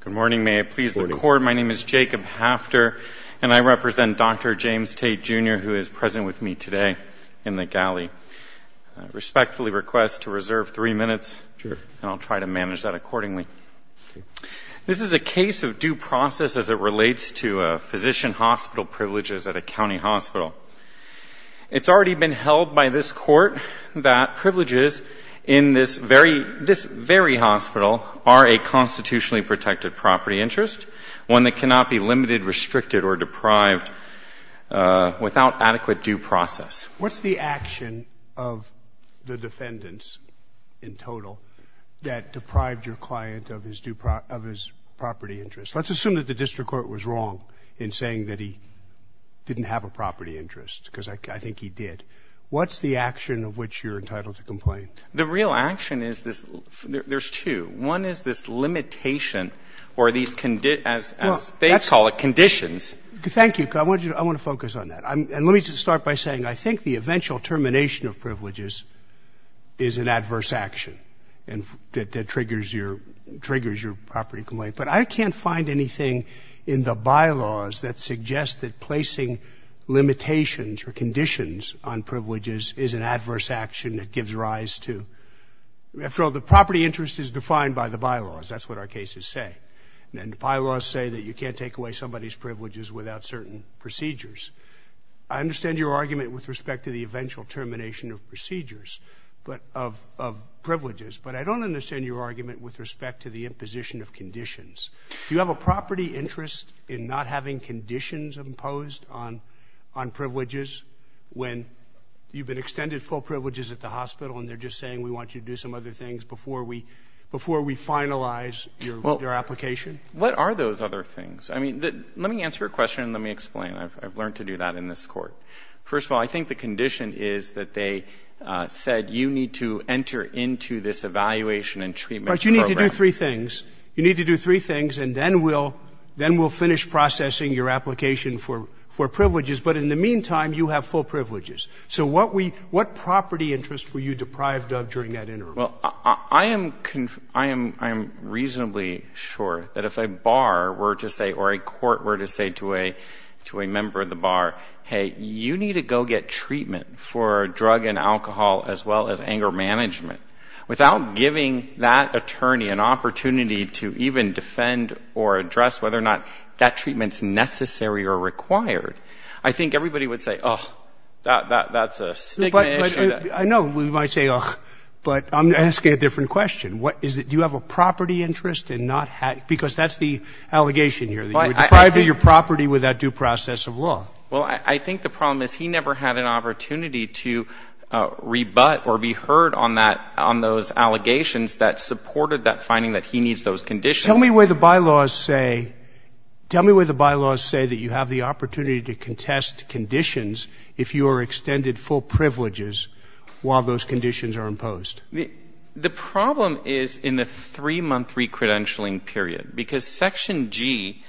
Good morning. May it please the Court, my name is Jacob Hafter, and I represent Dr. James Tate, Jr., who is present with me today in the galley. I respectfully request to reserve three minutes, and I'll try to manage that accordingly. This is a case of due process as it relates to physician hospital privileges at a county hospital. It's already been held by this Court that privileges in this very hospital are a constitutionally protected property interest, one that cannot be limited, restricted, or deprived without adequate due process. What's the action of the defendants in total that deprived your client of his property interest? Let's assume that the district court was wrong in saying that he didn't have a property interest, because I think he did. What's the action of which you're entitled to complain? The real action is this. There's two. One is this limitation or these, as they call it, conditions. Thank you. I want to focus on that. And let me just start by saying I think the eventual termination of privileges is an adverse action that triggers your property complaint. But I can't find anything in the bylaws that suggests that placing limitations or conditions on privileges is an adverse action that gives rise to. After all, the property interest is defined by the bylaws. That's what our cases say. And bylaws say that you can't take away somebody's privileges without certain procedures. I understand your argument with respect to the eventual termination of procedures, but of privileges. But I don't understand your argument with respect to the imposition of conditions. Do you have a property interest in not having conditions imposed on privileges when you've been extended full privileges at the hospital and they're just saying we want you to do some other things before we finalize your application? What are those other things? I mean, let me answer your question and let me explain. I've learned to do that in this Court. First of all, I think the condition is that they said you need to enter into this evaluation and treatment program. But you need to do three things. You need to do three things, and then we'll finish processing your application for privileges. But in the meantime, you have full privileges. So what property interest were you deprived of during that interval? Well, I am reasonably sure that if a bar were to say or a court were to say to a member of the bar, hey, you need to go get treatment for drug and alcohol as well as anger management, without giving that attorney an opportunity to even defend or address whether or not that treatment's necessary or required, I think everybody would say, oh, that's a stigma issue. But I know we might say, oh, but I'm asking a different question. What is it? Do you have a property interest in not having because that's the allegation here, that you were deprived of your property without due process of law? Well, I think the problem is he never had an opportunity to rebut or be heard on that on those allegations that supported that finding that he needs those conditions. Tell me where the bylaws say, tell me where the bylaws say that you have the opportunity to contest conditions if you are extended full privileges while those conditions are imposed. The problem is in the 3-month recredentialing period. Because Section G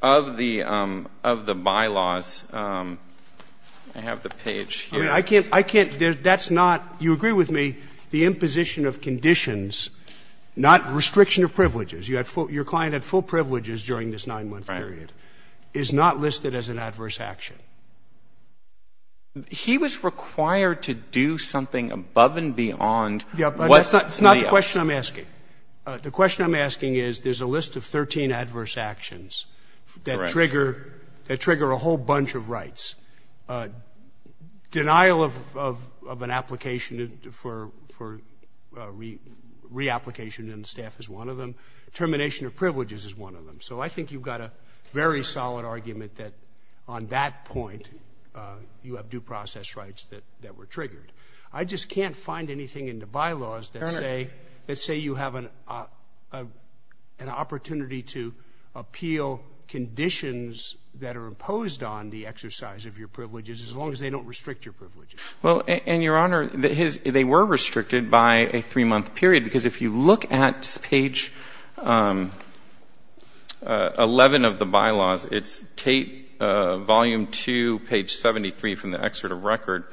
of the bylaws, I have the page here. I mean, I can't, I can't, that's not, you agree with me, the imposition of conditions, not restriction of privileges. You had full, your client had full privileges during this 9-month period. Right. Is not listed as an adverse action. He was required to do something above and beyond. Yeah, but that's not the question I'm asking. The question I'm asking is there's a list of 13 adverse actions that trigger, that trigger a whole bunch of rights. Denial of an application for reapplication in the staff is one of them. Termination of privileges is one of them. So I think you've got a very solid argument that on that point, you have due process rights that were triggered. I just can't find anything in the bylaws that say, that say you have an opportunity to appeal conditions that are imposed on the exercise of your privileges as long as they don't restrict your privileges. Well, and, Your Honor, they were restricted by a 3-month period. Because if you look at page 11 of the bylaws, it's volume 2, page 73 from the excerpt of record,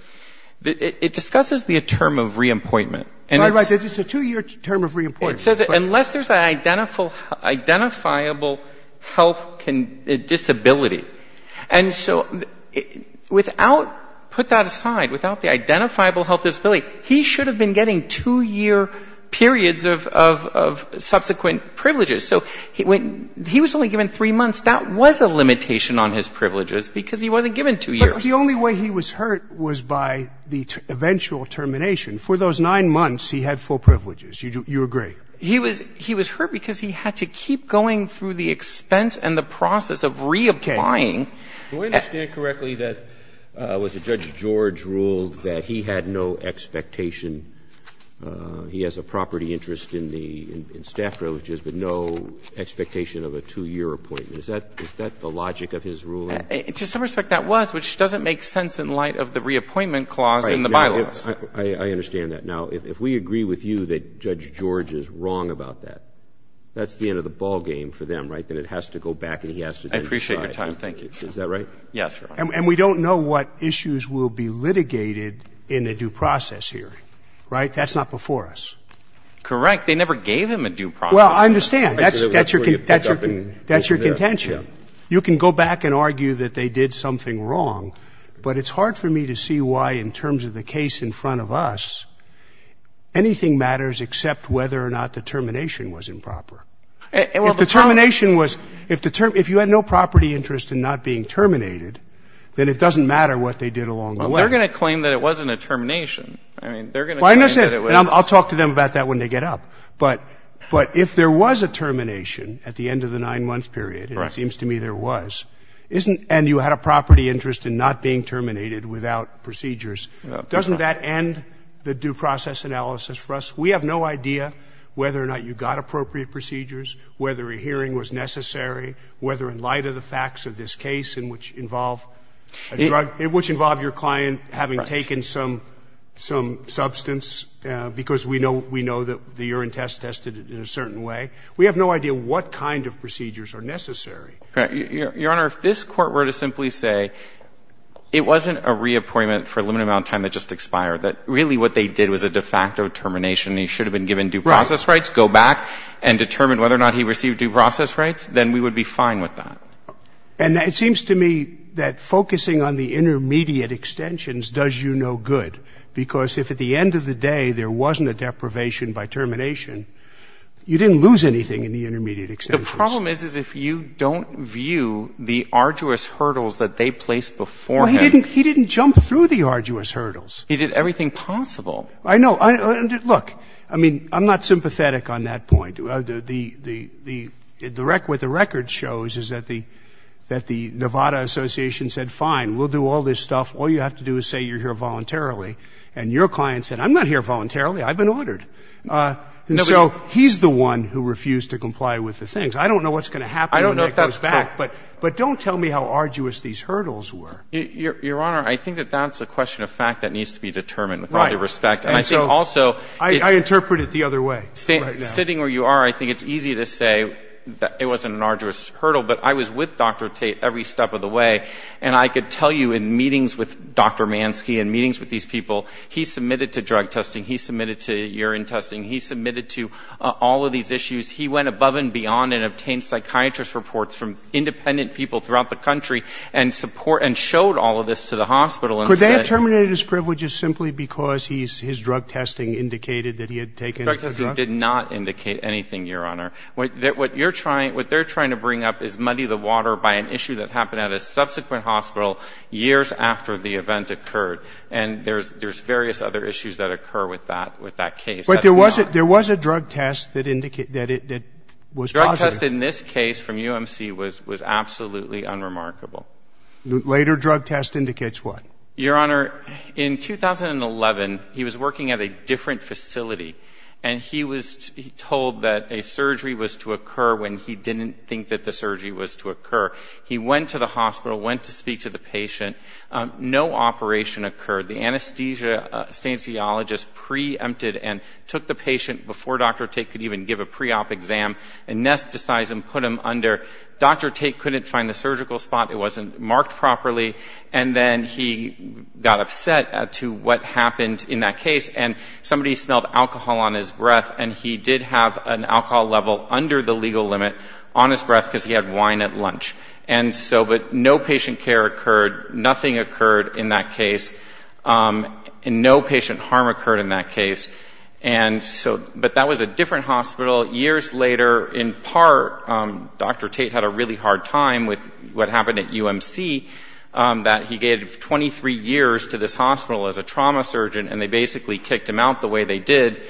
it discusses the term of reappointment. Right, right. It's a 2-year term of reappointment. It says unless there's an identifiable health disability. And so without, put that aside, without the identifiable health disability, he should have been getting 2-year periods of subsequent privileges. So when he was only given 3 months, that was a limitation on his privileges because he wasn't given 2 years. But the only way he was hurt was by the eventual termination. For those 9 months, he had full privileges. You agree? He was hurt because he had to keep going through the expense and the process of reapplying. Do I understand correctly that it was a Judge George rule that he had no expectation he has a property interest in the staff privileges, but no expectation of a 2-year appointment? Is that the logic of his ruling? To some respect, that was, which doesn't make sense in light of the reappointment clause in the bylaws. I understand that. Now, if we agree with you that Judge George is wrong about that, that's the end of the ballgame for them, right? Then it has to go back and he has to decide. I appreciate your time. Thank you. Is that right? Yes, Your Honor. And we don't know what issues will be litigated in a due process hearing, right? That's not before us. Correct. They never gave him a due process hearing. Well, I understand. That's your contention. You can go back and argue that they did something wrong, but it's hard for me to see why in terms of the case in front of us, anything matters except whether or not the termination was improper. If the termination was, if you had no property interest in not being terminated, then it doesn't matter what they did along the way. Well, they're going to claim that it wasn't a termination. I mean, they're going to claim that it was. Well, I understand. And I'll talk to them about that when they get up. But if there was a termination at the end of the 9-month period, and it seems to me there was, and you had a property interest in not being terminated without procedures, doesn't that end the due process analysis for us? We have no idea whether or not you got appropriate procedures, whether a hearing was necessary, whether in light of the facts of this case in which involve a drug, which involve your client having taken some substance, because we know that the urine test tested it in a certain way. We have no idea what kind of procedures are necessary. Your Honor, if this Court were to simply say it wasn't a reappointment for a limited amount of time that just expired, that really what they did was a de facto termination and he should have been given due process rights, go back and determine whether or not he received due process rights, then we would be fine with that. And it seems to me that focusing on the intermediate extensions does you no good, because if at the end of the day there wasn't a deprivation by termination, you didn't lose anything in the intermediate extensions. The problem is, is if you don't view the arduous hurdles that they placed before him. Well, he didn't jump through the arduous hurdles. He did everything possible. I know. Look, I mean, I'm not sympathetic on that point. The record shows is that the Nevada Association said, fine, we'll do all this stuff. All you have to do is say you're here voluntarily. And your client said, I'm not here voluntarily. I've been ordered. And so he's the one who refused to comply with the things. I don't know if that's true. But don't tell me how arduous these hurdles were. Your Honor, I think that that's a question of fact that needs to be determined with all due respect. And I think also. I interpret it the other way. Sitting where you are, I think it's easy to say that it wasn't an arduous hurdle. But I was with Dr. Tate every step of the way. And I could tell you in meetings with Dr. Mansky and meetings with these people, he submitted to drug testing. He submitted to urine testing. He submitted to all of these issues. He went above and beyond and obtained psychiatrist reports from independent people throughout the country and showed all of this to the hospital. Could they have terminated his privileges simply because his drug testing indicated that he had taken a drug? Drug testing did not indicate anything, Your Honor. What they're trying to bring up is muddy the water by an issue that happened at a subsequent hospital years after the event occurred. And there's various other issues that occur with that case. But there was a drug test that was positive. The drug test in this case from UMC was absolutely unremarkable. Later drug test indicates what? Your Honor, in 2011, he was working at a different facility. And he was told that a surgery was to occur when he didn't think that the surgery was to occur. He went to the hospital, went to speak to the patient. No operation occurred. The anesthesiologist preempted and took the patient before Dr. Tate could even give a pre-op exam, anesthetized him, put him under. Dr. Tate couldn't find the surgical spot. It wasn't marked properly. And then he got upset to what happened in that case. And somebody smelled alcohol on his breath, and he did have an alcohol level under the legal limit on his breath because he had wine at lunch. But no patient care occurred. Nothing occurred in that case. And no patient harm occurred in that case. But that was a different hospital. Years later, in part, Dr. Tate had a really hard time with what happened at UMC, that he gave 23 years to this hospital as a trauma surgeon, and they basically kicked him out the way they did.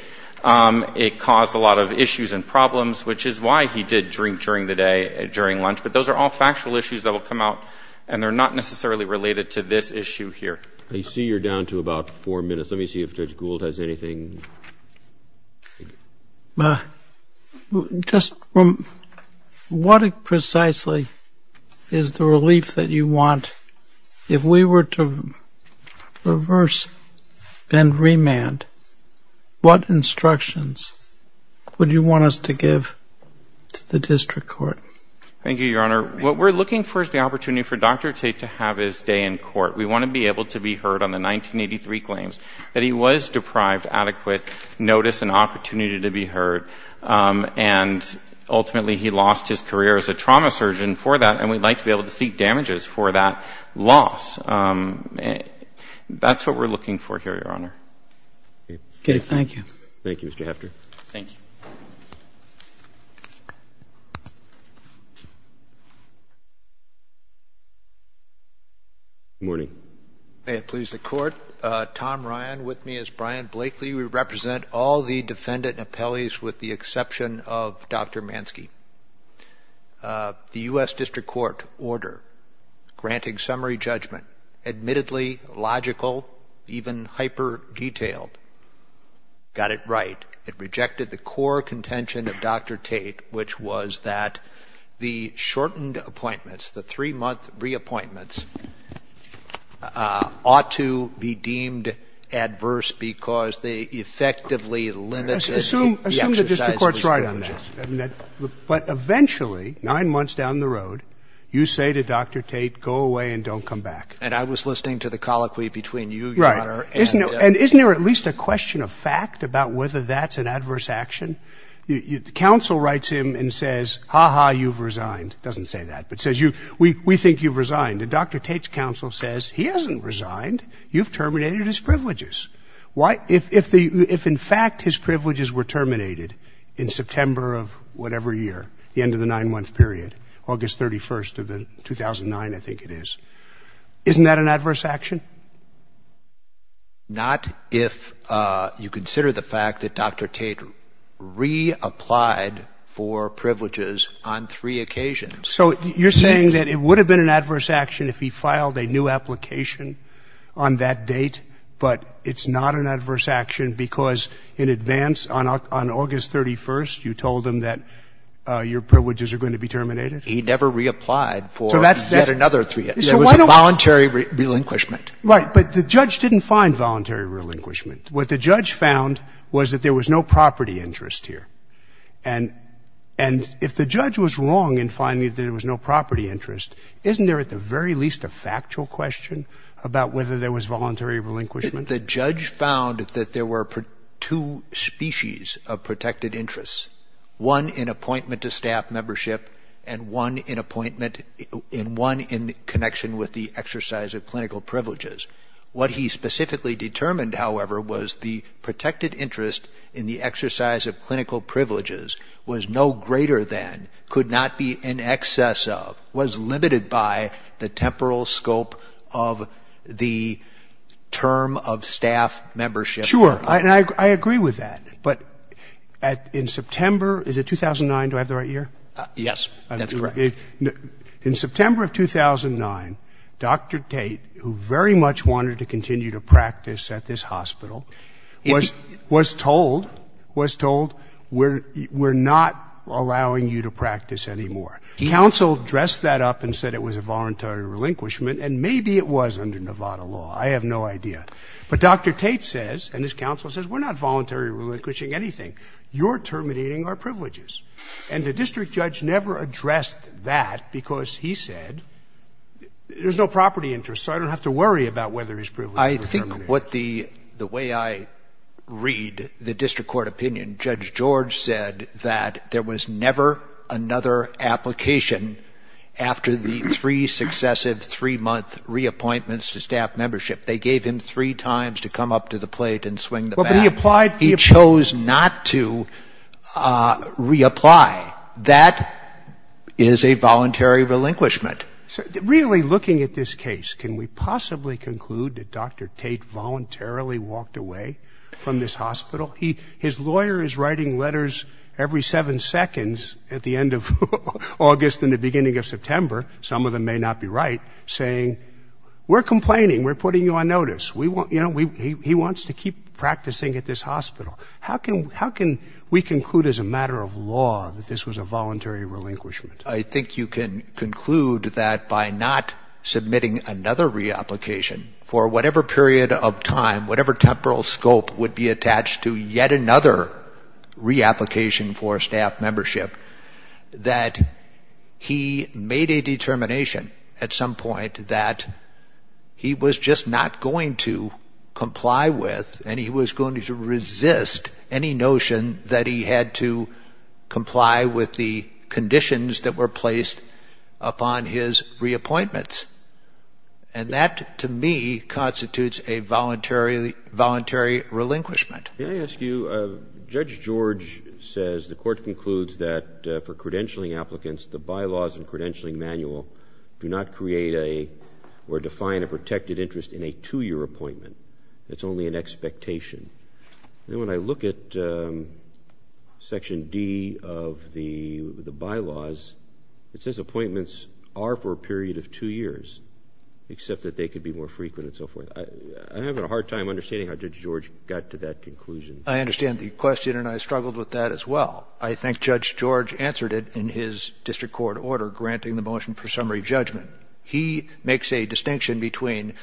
It caused a lot of issues and problems, which is why he did drink during the day and during lunch. But those are all factual issues that will come out, and they're not necessarily related to this issue here. I see you're down to about four minutes. Let me see if Judge Gould has anything. Just what precisely is the relief that you want? If we were to reverse and remand, what instructions would you want us to give to the district court? Thank you, Your Honor. What we're looking for is the opportunity for Dr. Tate to have his day in court. We want to be able to be heard on the 1983 claims that he was deprived adequate notice and opportunity to be heard. And ultimately, he lost his career as a trauma surgeon for that, and we'd like to be able to seek damages for that loss. That's what we're looking for here, Your Honor. Okay, thank you. Thank you, Mr. Hefter. Thank you. Good morning. May it please the Court. Tom Ryan with me as Brian Blakely. We represent all the defendant appellees with the exception of Dr. Manske. The U.S. district court order granting summary judgment, admittedly logical, even hyper-detailed, got it right. It rejected the core contention of Dr. Tate, which was that the shortened appointments, the three-month reappointments, ought to be deemed adverse because they effectively limited the exercise of responsibility. And so, I think that the court has done that. But eventually, nine months down the road, you say to Dr. Tate, go away and don't come back. And I was listening to the colloquy between you, Your Honor, and the other. Right. And isn't there at least a question of fact about whether that's an adverse action? The counsel writes him and says, ha-ha, you've resigned. It doesn't say that, but it says, we think you've resigned. And Dr. Tate's counsel says, he hasn't resigned. You've terminated his privileges. If in fact his privileges were terminated in September of whatever year, the end of the nine-month period, August 31st of 2009, I think it is, isn't that an adverse action? Not if you consider the fact that Dr. Tate reapplied for privileges on three occasions. So you're saying that it would have been an adverse action if he filed a new application on that date, but it's not an adverse action because in advance, on August 31st, you told him that your privileges are going to be terminated? He never reapplied for yet another three. It was a voluntary relinquishment. Right. But the judge didn't find voluntary relinquishment. What the judge found was that there was no property interest here. And if the judge was wrong in finding that there was no property interest, isn't there at the very least a factual question about whether there was voluntary relinquishment? The judge found that there were two species of protected interests, one in appointment to staff membership and one in connection with the exercise of clinical privileges. What he specifically determined, however, was the protected interest in the exercise of clinical privileges was no greater than, could not be in excess of, was limited by the temporal scope of the term of staff membership. Sure. And I agree with that. But in September, is it 2009? Do I have the right year? Yes. That's correct. In September of 2009, Dr. Tate, who very much wanted to continue to practice at this we're not allowing you to practice anymore. Counsel dressed that up and said it was a voluntary relinquishment, and maybe it was under Nevada law. I have no idea. But Dr. Tate says, and his counsel says, we're not voluntary relinquishing anything. You're terminating our privileges. And the district judge never addressed that because he said there's no property interest, so I don't have to worry about whether his privileges were terminated. What the way I read the district court opinion, Judge George said that there was never another application after the three successive three-month reappointments to staff membership. They gave him three times to come up to the plate and swing the baton. He chose not to reapply. That is a voluntary relinquishment. Really looking at this case, can we possibly conclude that Dr. Tate voluntarily walked away from this hospital? His lawyer is writing letters every seven seconds at the end of August and the beginning of September, some of them may not be right, saying we're complaining, we're putting you on notice. He wants to keep practicing at this hospital. How can we conclude as a matter of law that this was a voluntary relinquishment? I think you can conclude that by not submitting another reapplication for whatever period of time, whatever temporal scope would be attached to yet another reapplication for staff membership, that he made a determination at some point that he was just not going to comply with and he was going to resist any notion that he had to comply with the conditions that were placed upon his reappointments. And that, to me, constitutes a voluntary relinquishment. Can I ask you, Judge George says the Court concludes that for credentialing applicants, the bylaws and credentialing manual do not create a or define a protected interest in a two-year appointment. It's only an expectation. And when I look at Section D of the bylaws, it says appointments are for a period of two years, except that they could be more frequent and so forth. I'm having a hard time understanding how Judge George got to that conclusion. I understand the question and I struggled with that as well. I think Judge George answered it in his district court order granting the motion for summary judgment. He makes a distinction between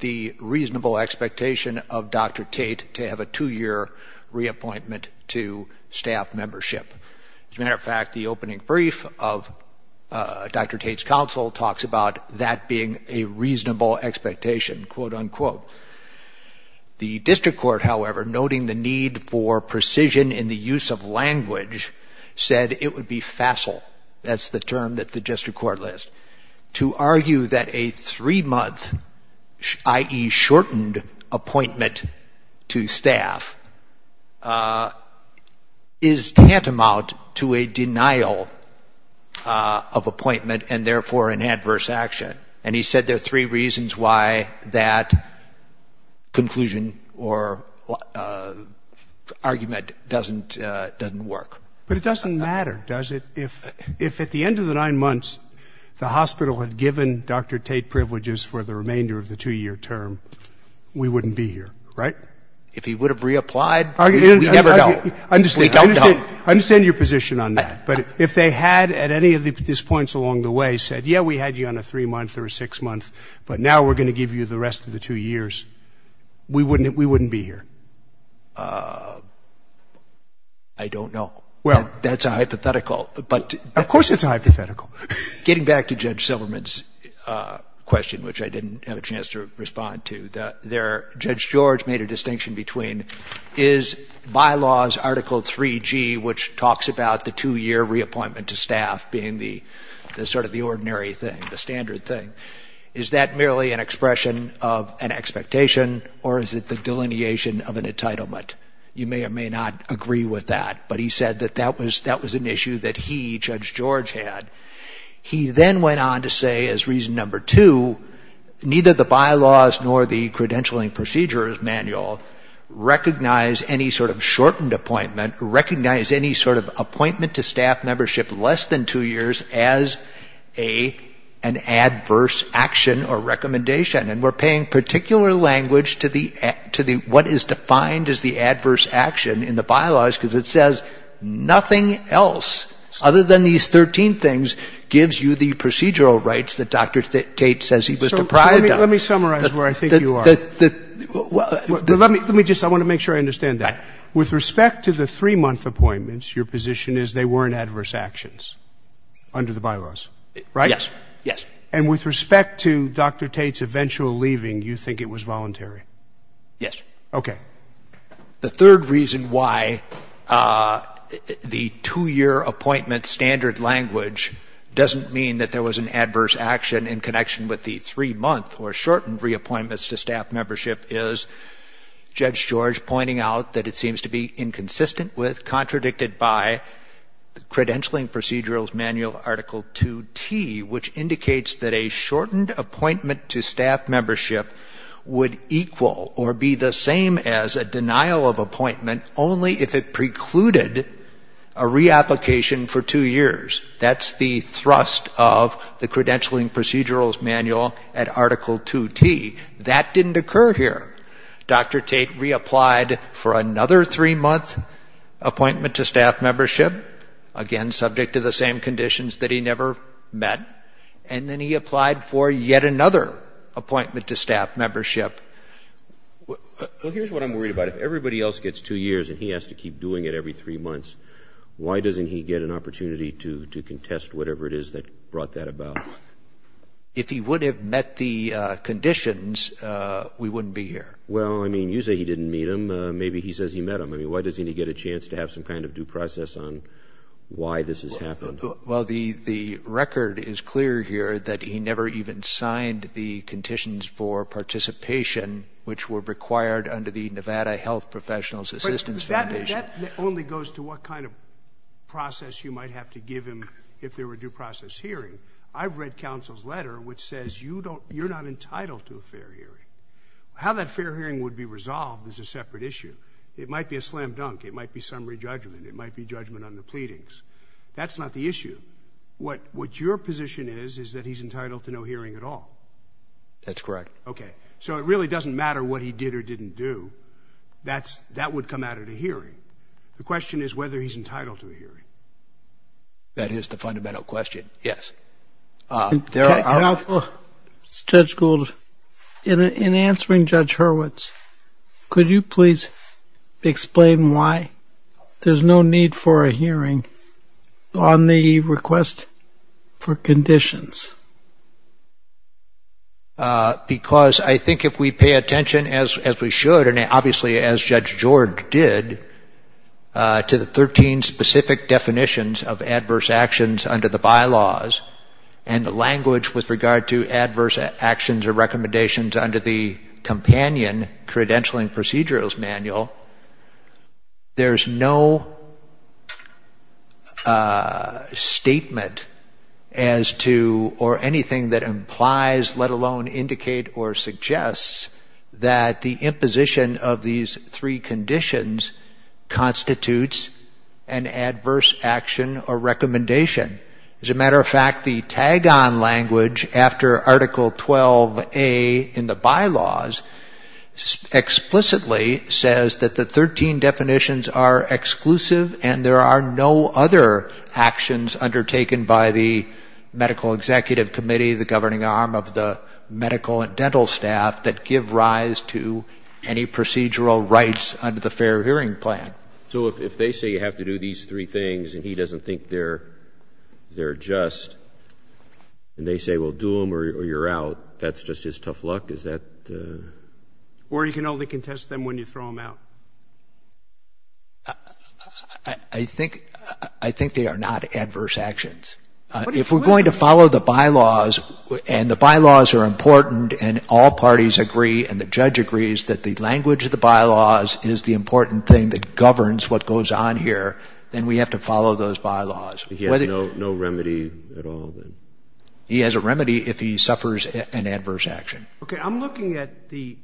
the reasonable expectation of Dr. Tate to have a two-year reappointment to staff membership. As a matter of fact, the opening brief of Dr. Tate's counsel talks about that being a reasonable expectation, quote, unquote. The district court, however, noting the need for precision in the use of language, said it would be facile. That's the term that the district court lists. To argue that a three-month, i.e., shortened appointment to staff is tantamount to a denial of appointment and therefore an adverse action. And he said there are three reasons why that conclusion or argument doesn't work. But it doesn't matter, does it, if at the end of the nine months, the hospital had given Dr. Tate privileges for the remainder of the two-year term, we wouldn't be here, right? If he would have reapplied, we never know. We don't know. I understand your position on that. But if they had at any of these points along the way said, yeah, we had you on a three-month or a six-month, but now we're going to give you the rest of the two years, we wouldn't be here. I don't know. That's a hypothetical. Of course it's a hypothetical. Getting back to Judge Silverman's question, which I didn't have a chance to respond to, Judge George made a distinction between, is bylaws Article 3G, which talks about the two-year reappointment to staff being the sort of the ordinary thing, the standard thing, is that merely an expression of an expectation or is it the delineation of an entitlement. You may or may not agree with that. But he said that that was an issue that he, Judge George, had. He then went on to say as reason number two, neither the bylaws nor the credentialing procedures manual recognize any sort of shortened appointment, recognize any sort of appointment to staff membership less than two years as an adverse action or recommendation. And we're paying particular language to the what is defined as the adverse action in the bylaws because it says nothing else other than these 13 things gives you the procedural rights that Dr. Tate says he was deprived of. So let me summarize where I think you are. Let me just, I want to make sure I understand that. With respect to the three-month appointments, your position is they weren't adverse actions under the bylaws, right? Yes. Yes. And with respect to Dr. Tate's eventual leaving, you think it was voluntary? Yes. Okay. The third reason why the two-year appointment standard language doesn't mean that there was an adverse action in connection with the three-month or shortened reappointments to staff membership is Judge George pointing out that it seems to be inconsistent with, contradicted by, the credentialing procedurals manual Article 2T, which indicates that a shortened appointment to staff membership would equal or be the same as a denial of appointment only if it precluded a reapplication for two years. That's the thrust of the credentialing procedurals manual at Article 2T. That didn't occur here. Dr. Tate reapplied for another three-month appointment to staff membership, again subject to the same conditions that he never met, and then he applied for yet another appointment to staff membership. Well, here's what I'm worried about. If everybody else gets two years and he has to keep doing it every three months, why doesn't he get an opportunity to contest whatever it is that brought that about? If he would have met the conditions, we wouldn't be here. Well, I mean, you say he didn't meet them. Maybe he says he met them. I mean, why doesn't he get a chance to have some kind of due process on why this has happened? Well, the record is clear here that he never even signed the conditions for participation which were required under the Nevada Health Professionals Assistance Foundation. But that only goes to what kind of process you might have to give him if there were due process hearing. I've read counsel's letter which says you're not entitled to a fair hearing. How that fair hearing would be resolved is a separate issue. It might be a slam dunk. It might be summary judgment. It might be judgment on the pleadings. That's not the issue. What your position is is that he's entitled to no hearing at all. That's correct. Okay. So it really doesn't matter what he did or didn't do. That would come out at a hearing. The question is whether he's entitled to a hearing. That is the fundamental question, yes. Counsel, this is Judge Gould. In answering Judge Hurwitz, could you please explain why there's no need for a hearing on the request for conditions? Because I think if we pay attention, as we should, and obviously as Judge George did, to the 13 specific definitions of adverse actions under the bylaws and the language with regard to adverse actions or recommendations under the companion credentialing procedurals manual, there's no statement as to or anything that implies, let alone indicate or suggests, that the imposition of these three conditions constitutes an adverse action or recommendation. As a matter of fact, the tag-on language after Article 12A in the bylaws explicitly says that the 13 definitions are exclusive and there are no other actions undertaken by the medical executive committee, the governing arm of the medical and dental staff, that give rise to any procedural rights under the fair hearing plan. So if they say you have to do these three things and he doesn't think they're just, and they say, well, do them or you're out, that's just his tough luck? Is that? Or you can only contest them when you throw them out. I think they are not adverse actions. If we're going to follow the bylaws and the bylaws are important and all parties agree and the judge agrees that the language of the bylaws is the important thing that governs what goes on here, then we have to follow those bylaws. He has no remedy at all? He has a remedy if he suffers an adverse action. Okay. I'm looking at the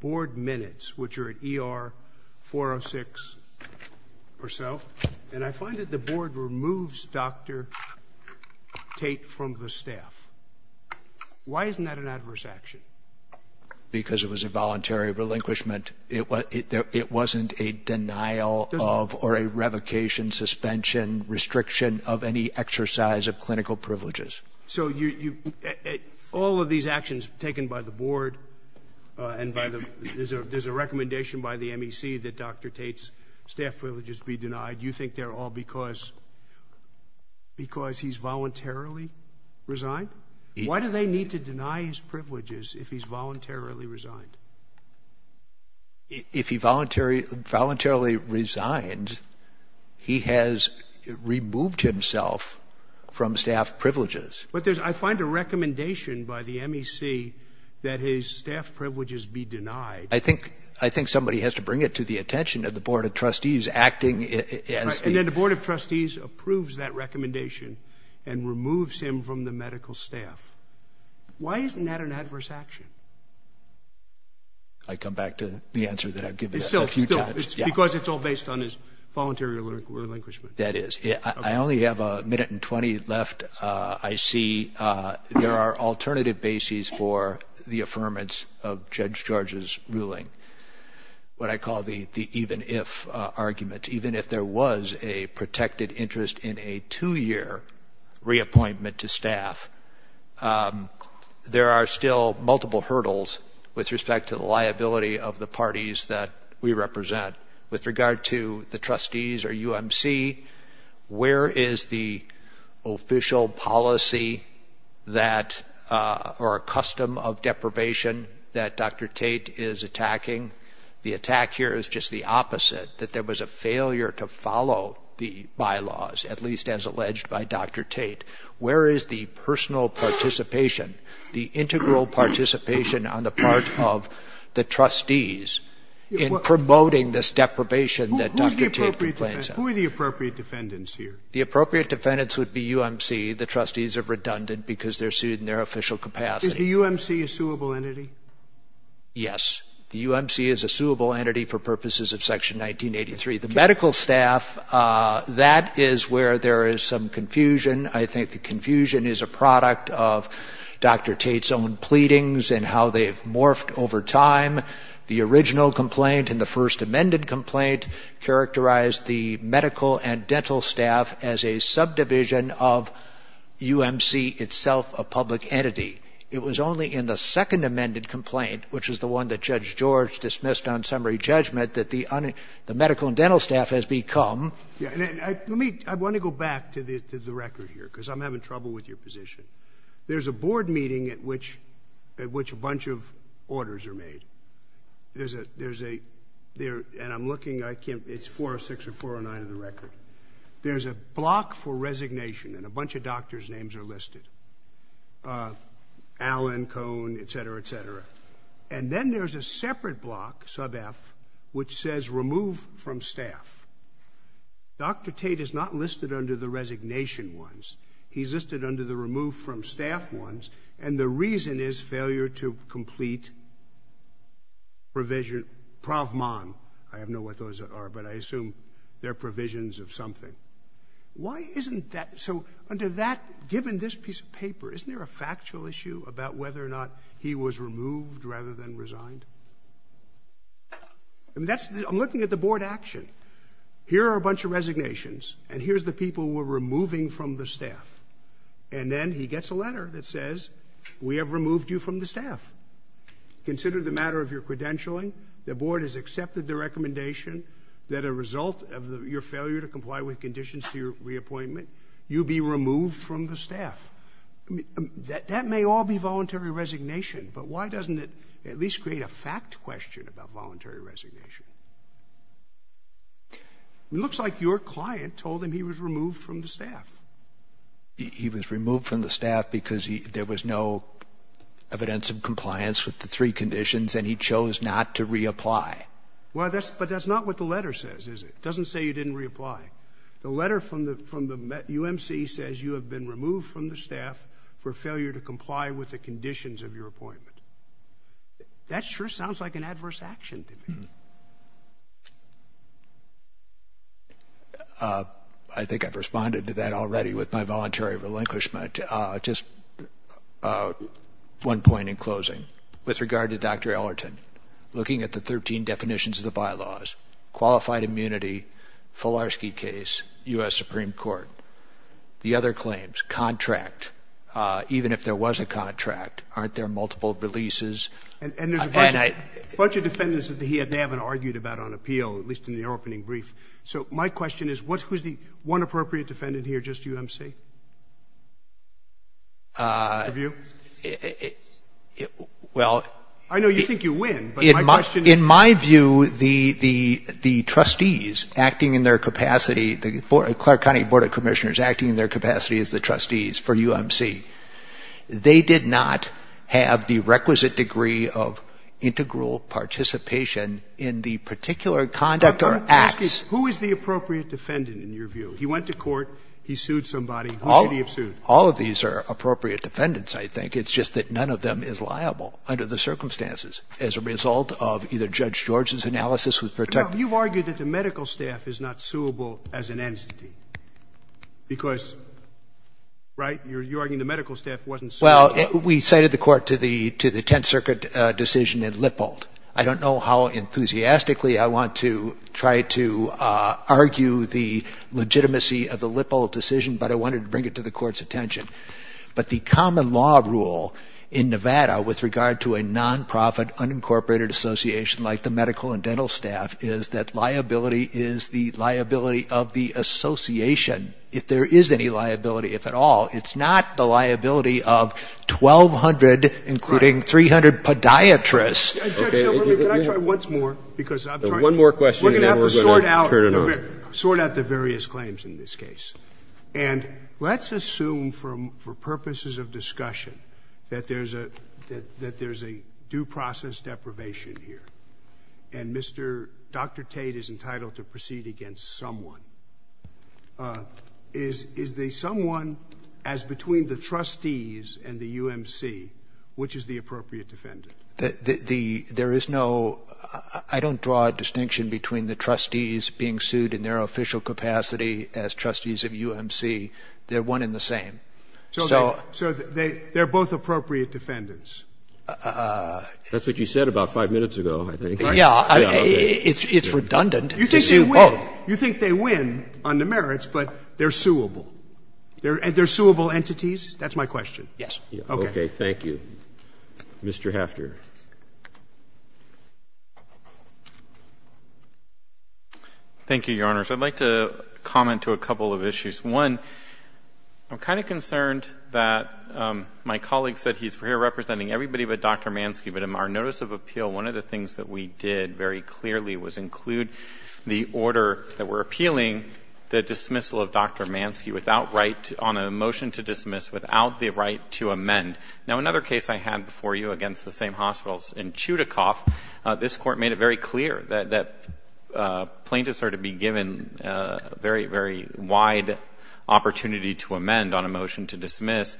board minutes, which are at ER 406 or so, and I find that the board has not taken any action to remove Dr. Tate from the staff. Why isn't that an adverse action? Because it was a voluntary relinquishment. It wasn't a denial of or a revocation, suspension, restriction of any exercise of clinical privileges. So all of these actions taken by the board and by the, there's a recommendation by the MEC that Dr. Tate's staff privileges be denied. You think they're all because he's voluntarily resigned? Why do they need to deny his privileges if he's voluntarily resigned? If he voluntarily resigned, he has removed himself from staff privileges. But there's, I find a recommendation by the MEC that his staff privileges be denied. I think somebody has to bring it to the attention of the board of trustees acting. And then the board of trustees approves that recommendation and removes him from the medical staff. Why isn't that an adverse action? I come back to the answer that I've given a few times. Because it's all based on his voluntary relinquishment. That is. I only have a minute and 20 left. And I see there are alternative bases for the affirmance of Judge George's ruling. What I call the even-if argument. Even if there was a protected interest in a two-year reappointment to staff, there are still multiple hurdles with respect to the liability of the parties that we represent. With regard to the trustees or UMC, where is the official policy that, or a custom of deprivation that Dr. Tate is attacking? The attack here is just the opposite, that there was a failure to follow the bylaws, at least as alleged by Dr. Tate. Where is the personal participation, the integral participation on the part of the trustees in promoting this deprivation that Dr. Tate complains about? Who are the appropriate defendants here? The appropriate defendants would be UMC. The trustees are redundant because they're sued in their official capacity. Is the UMC a suable entity? Yes. The UMC is a suable entity for purposes of Section 1983. The medical staff, that is where there is some confusion. I think the confusion is a product of Dr. Tate's own pleadings and how they've morphed over time. The original complaint and the first amended complaint characterized the medical and dental staff as a subdivision of UMC itself, a public entity. It was only in the second amended complaint, which is the one that Judge George dismissed on summary judgment, that the medical and dental staff has become. I want to go back to the record here because I'm having trouble with your position. There's a board meeting at which a bunch of orders are made. And I'm looking. It's 406 or 409 of the record. There's a block for resignation, and a bunch of doctors' names are listed. Allen, Cohn, et cetera, et cetera. And then there's a separate block, sub F, which says remove from staff. Dr. Tate is not listed under the resignation ones. He's listed under the remove from staff ones. And the reason is failure to complete provision, prov mon. I don't know what those are, but I assume they're provisions of something. Why isn't that? So under that, given this piece of paper, isn't there a factual issue about whether or not he was removed rather than resigned? I'm looking at the board action. Here are a bunch of resignations. And here's the people we're removing from the staff. And then he gets a letter that says we have removed you from the staff. Consider the matter of your credentialing. The board has accepted the recommendation that a result of your failure to comply with conditions to your reappointment, you be removed from the staff. That may all be voluntary resignation, but why doesn't it at least create a fact question about voluntary resignation? It looks like your client told him he was removed from the staff. He was removed from the staff because there was no evidence of compliance with the three conditions and he chose not to reapply. But that's not what the letter says, is it? It doesn't say you didn't reapply. The letter from the UMC says you have been removed from the staff for failure to comply with the conditions of your appointment. That sure sounds like an adverse action to me. I think I've responded to that already with my voluntary relinquishment. Just one point in closing. With regard to Dr. Ellerton, looking at the 13 definitions of the bylaws, qualified immunity, Fularski case, U.S. Supreme Court, the other claims, contract, even if there was a contract, aren't there multiple releases? And there's a bunch of defendants that he may have argued about on appeal, at least in the opening brief. So my question is, who's the one appropriate defendant here, just UMC? In my view, the trustees acting in their capacity, the Clark County Board of Commissioners acting in their capacity as the trustees for UMC, they did not have the requisite degree of integral participation in the particular conduct or acts. Scalia. Who is the appropriate defendant in your view? He went to court. He sued somebody. Who should he have sued? All of these are appropriate defendants, I think. It's just that none of them is liable under the circumstances as a result of either Judge George's analysis, who's protected. No. You've argued that the medical staff is not suable as an entity, because, right? You're arguing the medical staff wasn't suable. Well, we cited the court to the Tenth Circuit decision in Lippold. I don't know how enthusiastically I want to try to argue the legitimacy of the Lippold decision, but I wanted to bring it to the court's attention. But the common law rule in Nevada with regard to a nonprofit, unincorporated association like the medical and dental staff is that liability is the liability of the association. If there is any liability, if at all, it's not the liability of 1,200, including 300 podiatrists. Judge, can I try once more? One more question and then we're going to turn it on. We're going to have to sort out the various claims in this case. And let's assume for purposes of discussion that there's a due process deprivation here, and Dr. Tate is entitled to proceed against someone. Is there someone as between the trustees and the UMC, which is the appropriate defendant? There is no – I don't draw a distinction between the trustees being sued in their official capacity as trustees of UMC. They're one and the same. So they're both appropriate defendants? That's what you said about five minutes ago, I think. Yeah. It's redundant to sue both. You think they win on the merits, but they're suable. They're suable entities? That's my question. Yes. Okay. Okay. Thank you. Mr. Hafter. Thank you, Your Honors. I'd like to comment to a couple of issues. One, I'm kind of concerned that my colleague said he's here representing everybody but Dr. Mansky. But in our notice of appeal, one of the things that we did very clearly was include the order that we're appealing the dismissal of Dr. Mansky on a motion to dismiss without the right to amend. Now, another case I had before you against the same hospitals in Chudikov, this Court made it very clear that plaintiffs are to be given a very, very wide opportunity to amend on a motion to dismiss.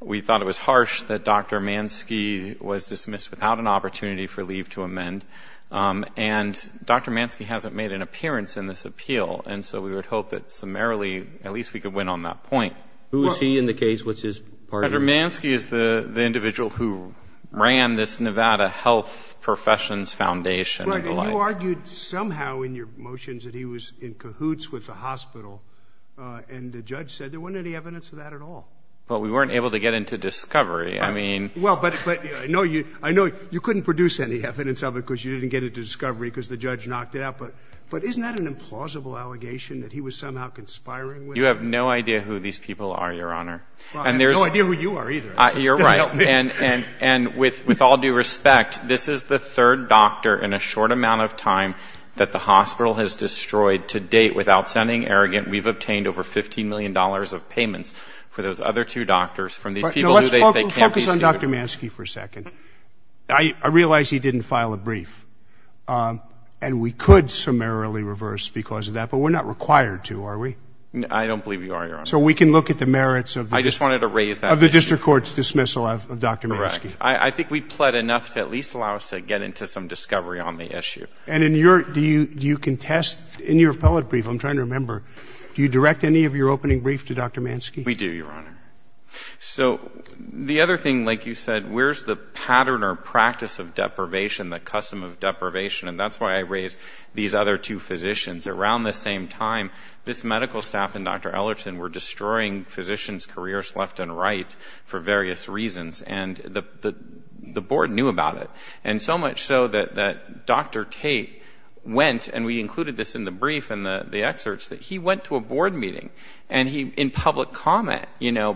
We thought it was harsh that Dr. Mansky was dismissed without an opportunity for leave to amend. And Dr. Mansky hasn't made an appearance in this appeal, and so we would hope that summarily at least we could win on that point. Who is he in the case? What's his party? Dr. Mansky is the individual who ran this Nevada Health Professions Foundation. You argued somehow in your motions that he was in cahoots with the hospital, and the judge said there wasn't any evidence of that at all. But we weren't able to get into discovery. I know you couldn't produce any evidence of it because you didn't get into discovery because the judge knocked it out, but isn't that an implausible allegation that he was somehow conspiring with? You have no idea who these people are, Your Honor. I have no idea who you are either. You're right. And with all due respect, this is the third doctor in a short amount of time that the hospital has destroyed to date without sounding arrogant. We've obtained over $15 million of payments for those other two doctors from these people who they say can't be sued. Let's focus on Dr. Mansky for a second. I realize he didn't file a brief, and we could summarily reverse because of that, but we're not required to, are we? I don't believe you are, Your Honor. So we can look at the merits of the district court's dismissal of Dr. Mansky. Correct. I think we've pled enough to at least allow us to get into some discovery on the issue. And do you contest in your appellate brief, I'm trying to remember, do you direct any of your opening brief to Dr. Mansky? We do, Your Honor. So the other thing, like you said, where's the pattern or practice of deprivation, the custom of deprivation? And that's why I raised these other two physicians. Around this same time, this medical staff and Dr. Ellerton were destroying physicians' careers left and right for various reasons, and the board knew about it. And so much so that Dr. Tate went, and we included this in the brief and the excerpts, that he went to a board meeting and he, in public comment,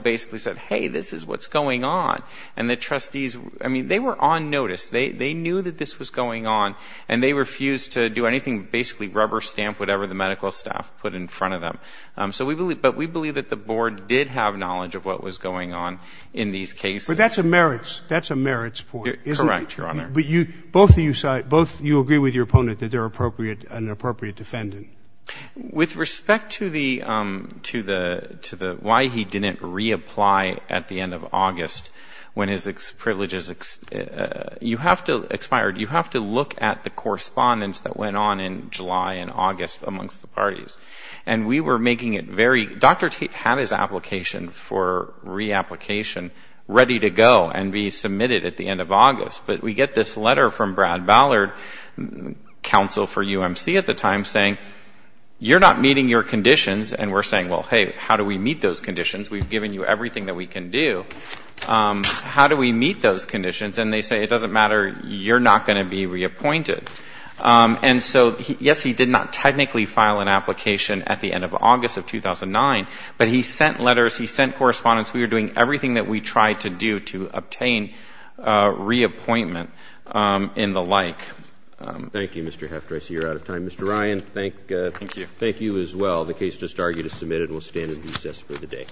basically said, hey, this is what's going on. And the trustees, I mean, they were on notice. They knew that this was going on, and they refused to do anything, basically rubber stamp whatever the medical staff put in front of them. But we believe that the board did have knowledge of what was going on in these cases. But that's a merits point, isn't it? Correct, Your Honor. But both you agree with your opponent that they're an appropriate defendant? With respect to the why he didn't reapply at the end of August when his privileges expired, you have to look at the correspondence that went on in July and August amongst the parties. And we were making it very Dr. Tate had his application for reapplication ready to go and be submitted at the end of August. But we get this letter from Brad Ballard, counsel for UMC at the time, saying, you're not meeting your conditions. And we're saying, well, hey, how do we meet those conditions? We've given you everything that we can do. How do we meet those conditions? And they say, it doesn't matter. You're not going to be reappointed. And so, yes, he did not technically file an application at the end of August of 2009, but he sent letters, he sent correspondence. We were doing everything that we tried to do to obtain reappointment and the like. Thank you, Mr. Heffter. I see you're out of time. Mr. Ryan, thank you as well. The case just argued is submitted. We'll stand and recess for the day.